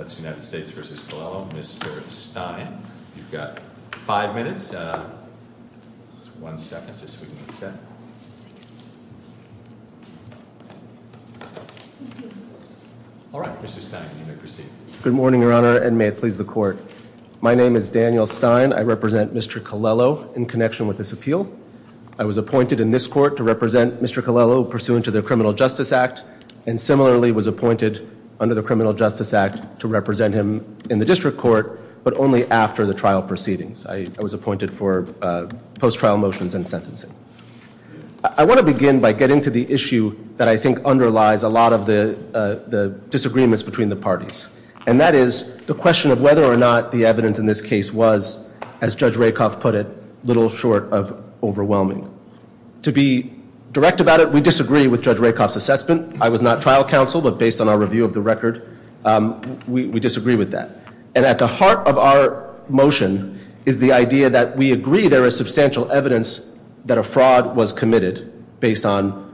That's United States v. Colello. Mr. Stein, you've got five minutes, one second just so we can get set. All right, Mr. Stein, you may proceed. Good morning, Your Honor, and may it please the Court. My name is Daniel Stein. I represent Mr. Colello in connection with this appeal. I was appointed in this Court to represent Mr. Colello pursuant to the Criminal Justice Act and similarly was appointed under the Criminal Justice Act to represent him in the District Court, but only after the trial proceedings. I was appointed for post-trial motions and sentencing. I want to begin by getting to the issue that I think underlies a lot of the disagreements between the parties, and that is the question of whether or not the evidence in this case was, as Judge Rakoff put it, a little short of overwhelming. To be direct about it, we disagree with Judge Rakoff's assessment. I was not trial counsel, but based on our review of the record, we disagree with that. And at the heart of our motion is the idea that we agree there is substantial evidence that a fraud was committed based on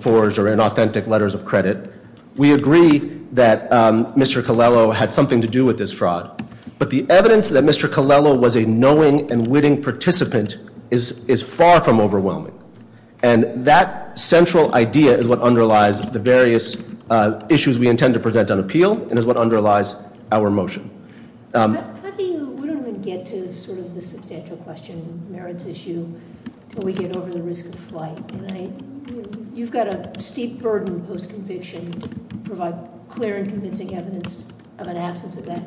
forged or inauthentic letters of credit. We agree that Mr. Colello had something to do with this fraud, but the evidence that Mr. Colello was a knowing and witting participant is far from overwhelming. And that central idea is what underlies the various issues we intend to present on appeal and is what underlies our motion. How do you get to sort of the substantial question, merits issue, until we get over the risk of flight? You've got a steep burden post-conviction to provide clear and convincing evidence of an absence of that.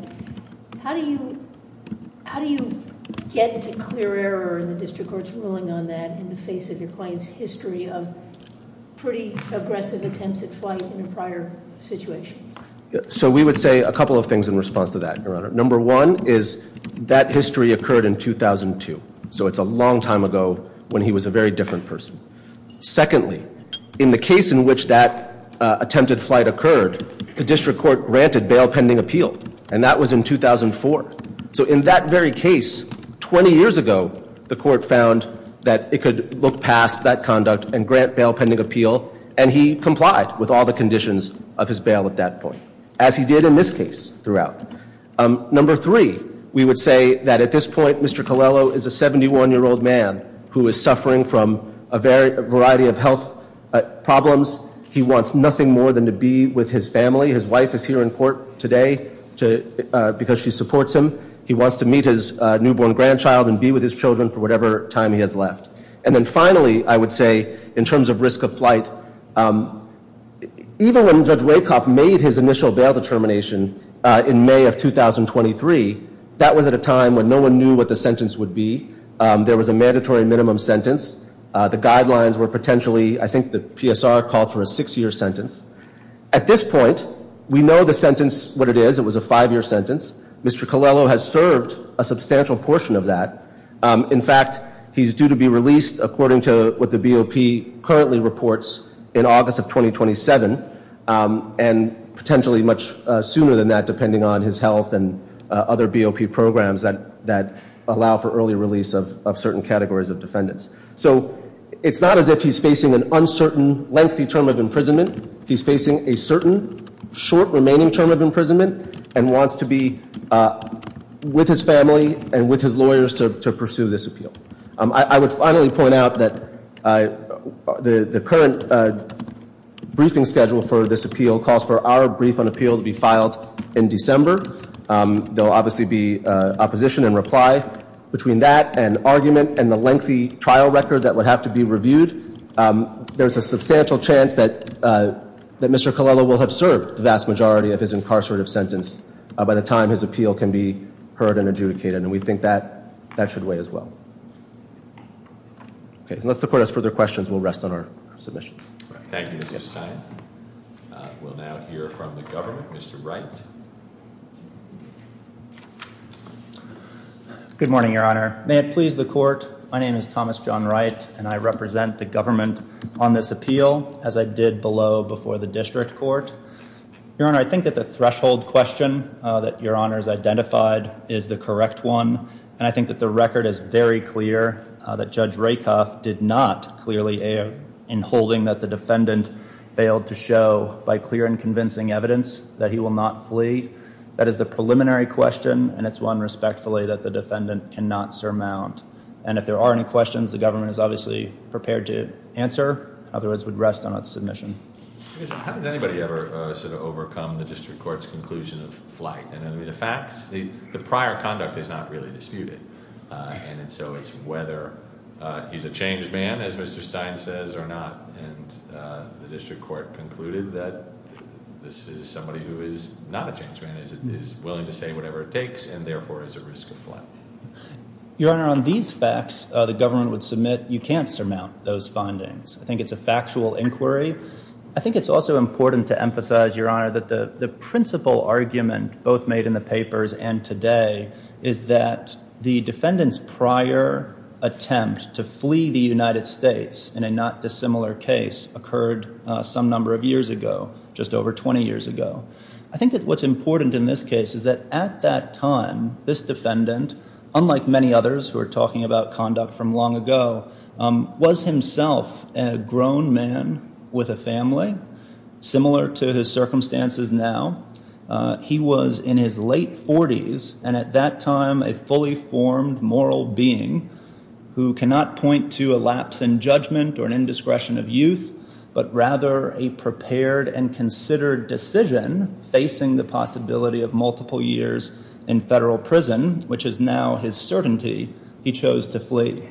How do you get to clear error in the district court's ruling on that in the face of your client's history of pretty aggressive attempts at flight in a prior situation? So we would say a couple of things in response to that, Your Honor. Number one is that history occurred in 2002, so it's a long time ago when he was a very different person. Secondly, in the case in which that attempted flight occurred, the district court granted bail pending appeal, and that was in 2004. So in that very case, 20 years ago, the court found that it could look past that conduct and grant bail pending appeal, and he complied with all the conditions of his bail at that point, as he did in this case throughout. Number three, we would say that at this point, Mr. Colello is a 71-year-old man who is suffering from a variety of health problems. He wants nothing more than to be with his family. His wife is here in court today because she supports him. He wants to meet his newborn grandchild and be with his children for whatever time he has left. And then finally, I would say, in terms of risk of flight, even when Judge Rakoff made his initial bail determination in May of 2023, that was at a time when no one knew what the sentence would be. There was a mandatory minimum sentence. The guidelines were potentially, I think the PSR called for a six-year sentence. At this point, we know the sentence, what it is. It was a five-year sentence. Mr. Colello has served a substantial portion of that. In fact, he's due to be released, according to what the BOP currently reports, in August of 2027, and potentially much sooner than that, depending on his health and other BOP programs that allow for early release of certain categories of defendants. So it's not as if he's facing an uncertain, lengthy term of imprisonment. He's facing a certain short remaining term of imprisonment and wants to be with his family and with his lawyers to pursue this appeal. I would finally point out that the current briefing schedule for this appeal calls for our brief on appeal to be filed in December. There will obviously be opposition and reply between that and argument and the lengthy trial record that would have to be reviewed. There's a substantial chance that Mr. Colello will have served the vast majority of his incarcerative sentence by the time his appeal can be heard and adjudicated, and we think that that should weigh as well. Unless the court has further questions, we'll rest on our submissions. Thank you, Mr. Stein. We'll now hear from the government. Mr. Wright. Good morning, Your Honor. May it please the court. My name is Thomas John Wright, and I represent the government on this appeal, as I did below before the district court. Your Honor, I think that the threshold question that Your Honor has identified is the correct one, and I think that the record is very clear that Judge Rakoff did not clearly air in holding that the defendant failed to show by clear and convincing evidence that he will not flee. That is the preliminary question, and it's one respectfully that the defendant cannot surmount. And if there are any questions, the government is obviously prepared to answer. In other words, we'd rest on its submission. How does anybody ever sort of overcome the district court's conclusion of flight? I mean, the facts, the prior conduct is not really disputed. And so it's whether he's a changed man, as Mr. Stein says, or not. And the district court concluded that this is somebody who is not a changed man, is willing to say whatever it takes, and therefore is at risk of flight. Your Honor, on these facts, the government would submit you can't surmount those findings. I think it's a factual inquiry. I think it's also important to emphasize, Your Honor, that the principal argument both made in the papers and today is that the defendant's prior attempt to flee the United States in a not dissimilar case occurred some number of years ago, just over 20 years ago. I think that what's important in this case is that at that time, this defendant, unlike many others who are talking about conduct from long ago, was himself a grown man with a family, similar to his circumstances now. He was in his late 40s and at that time a fully formed moral being who cannot point to a lapse in judgment or an indiscretion of youth, but rather a prepared and considered decision facing the possibility of multiple years in federal prison, which is now his certainty, he chose to flee.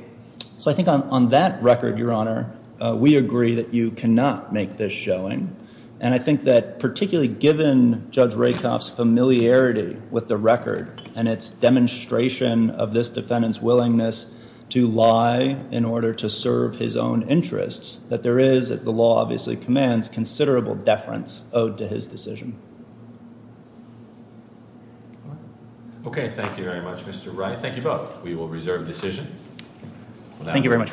So I think on that record, Your Honor, we agree that you cannot make this showing. And I think that particularly given Judge Rakoff's familiarity with the record and its demonstration of this defendant's willingness to lie in order to serve his own interests, that there is, as the law obviously commands, considerable deference owed to his decision. Okay. Thank you very much, Mr. Wright. Thank you both. We will reserve decision. Thank you very much, Your Honor.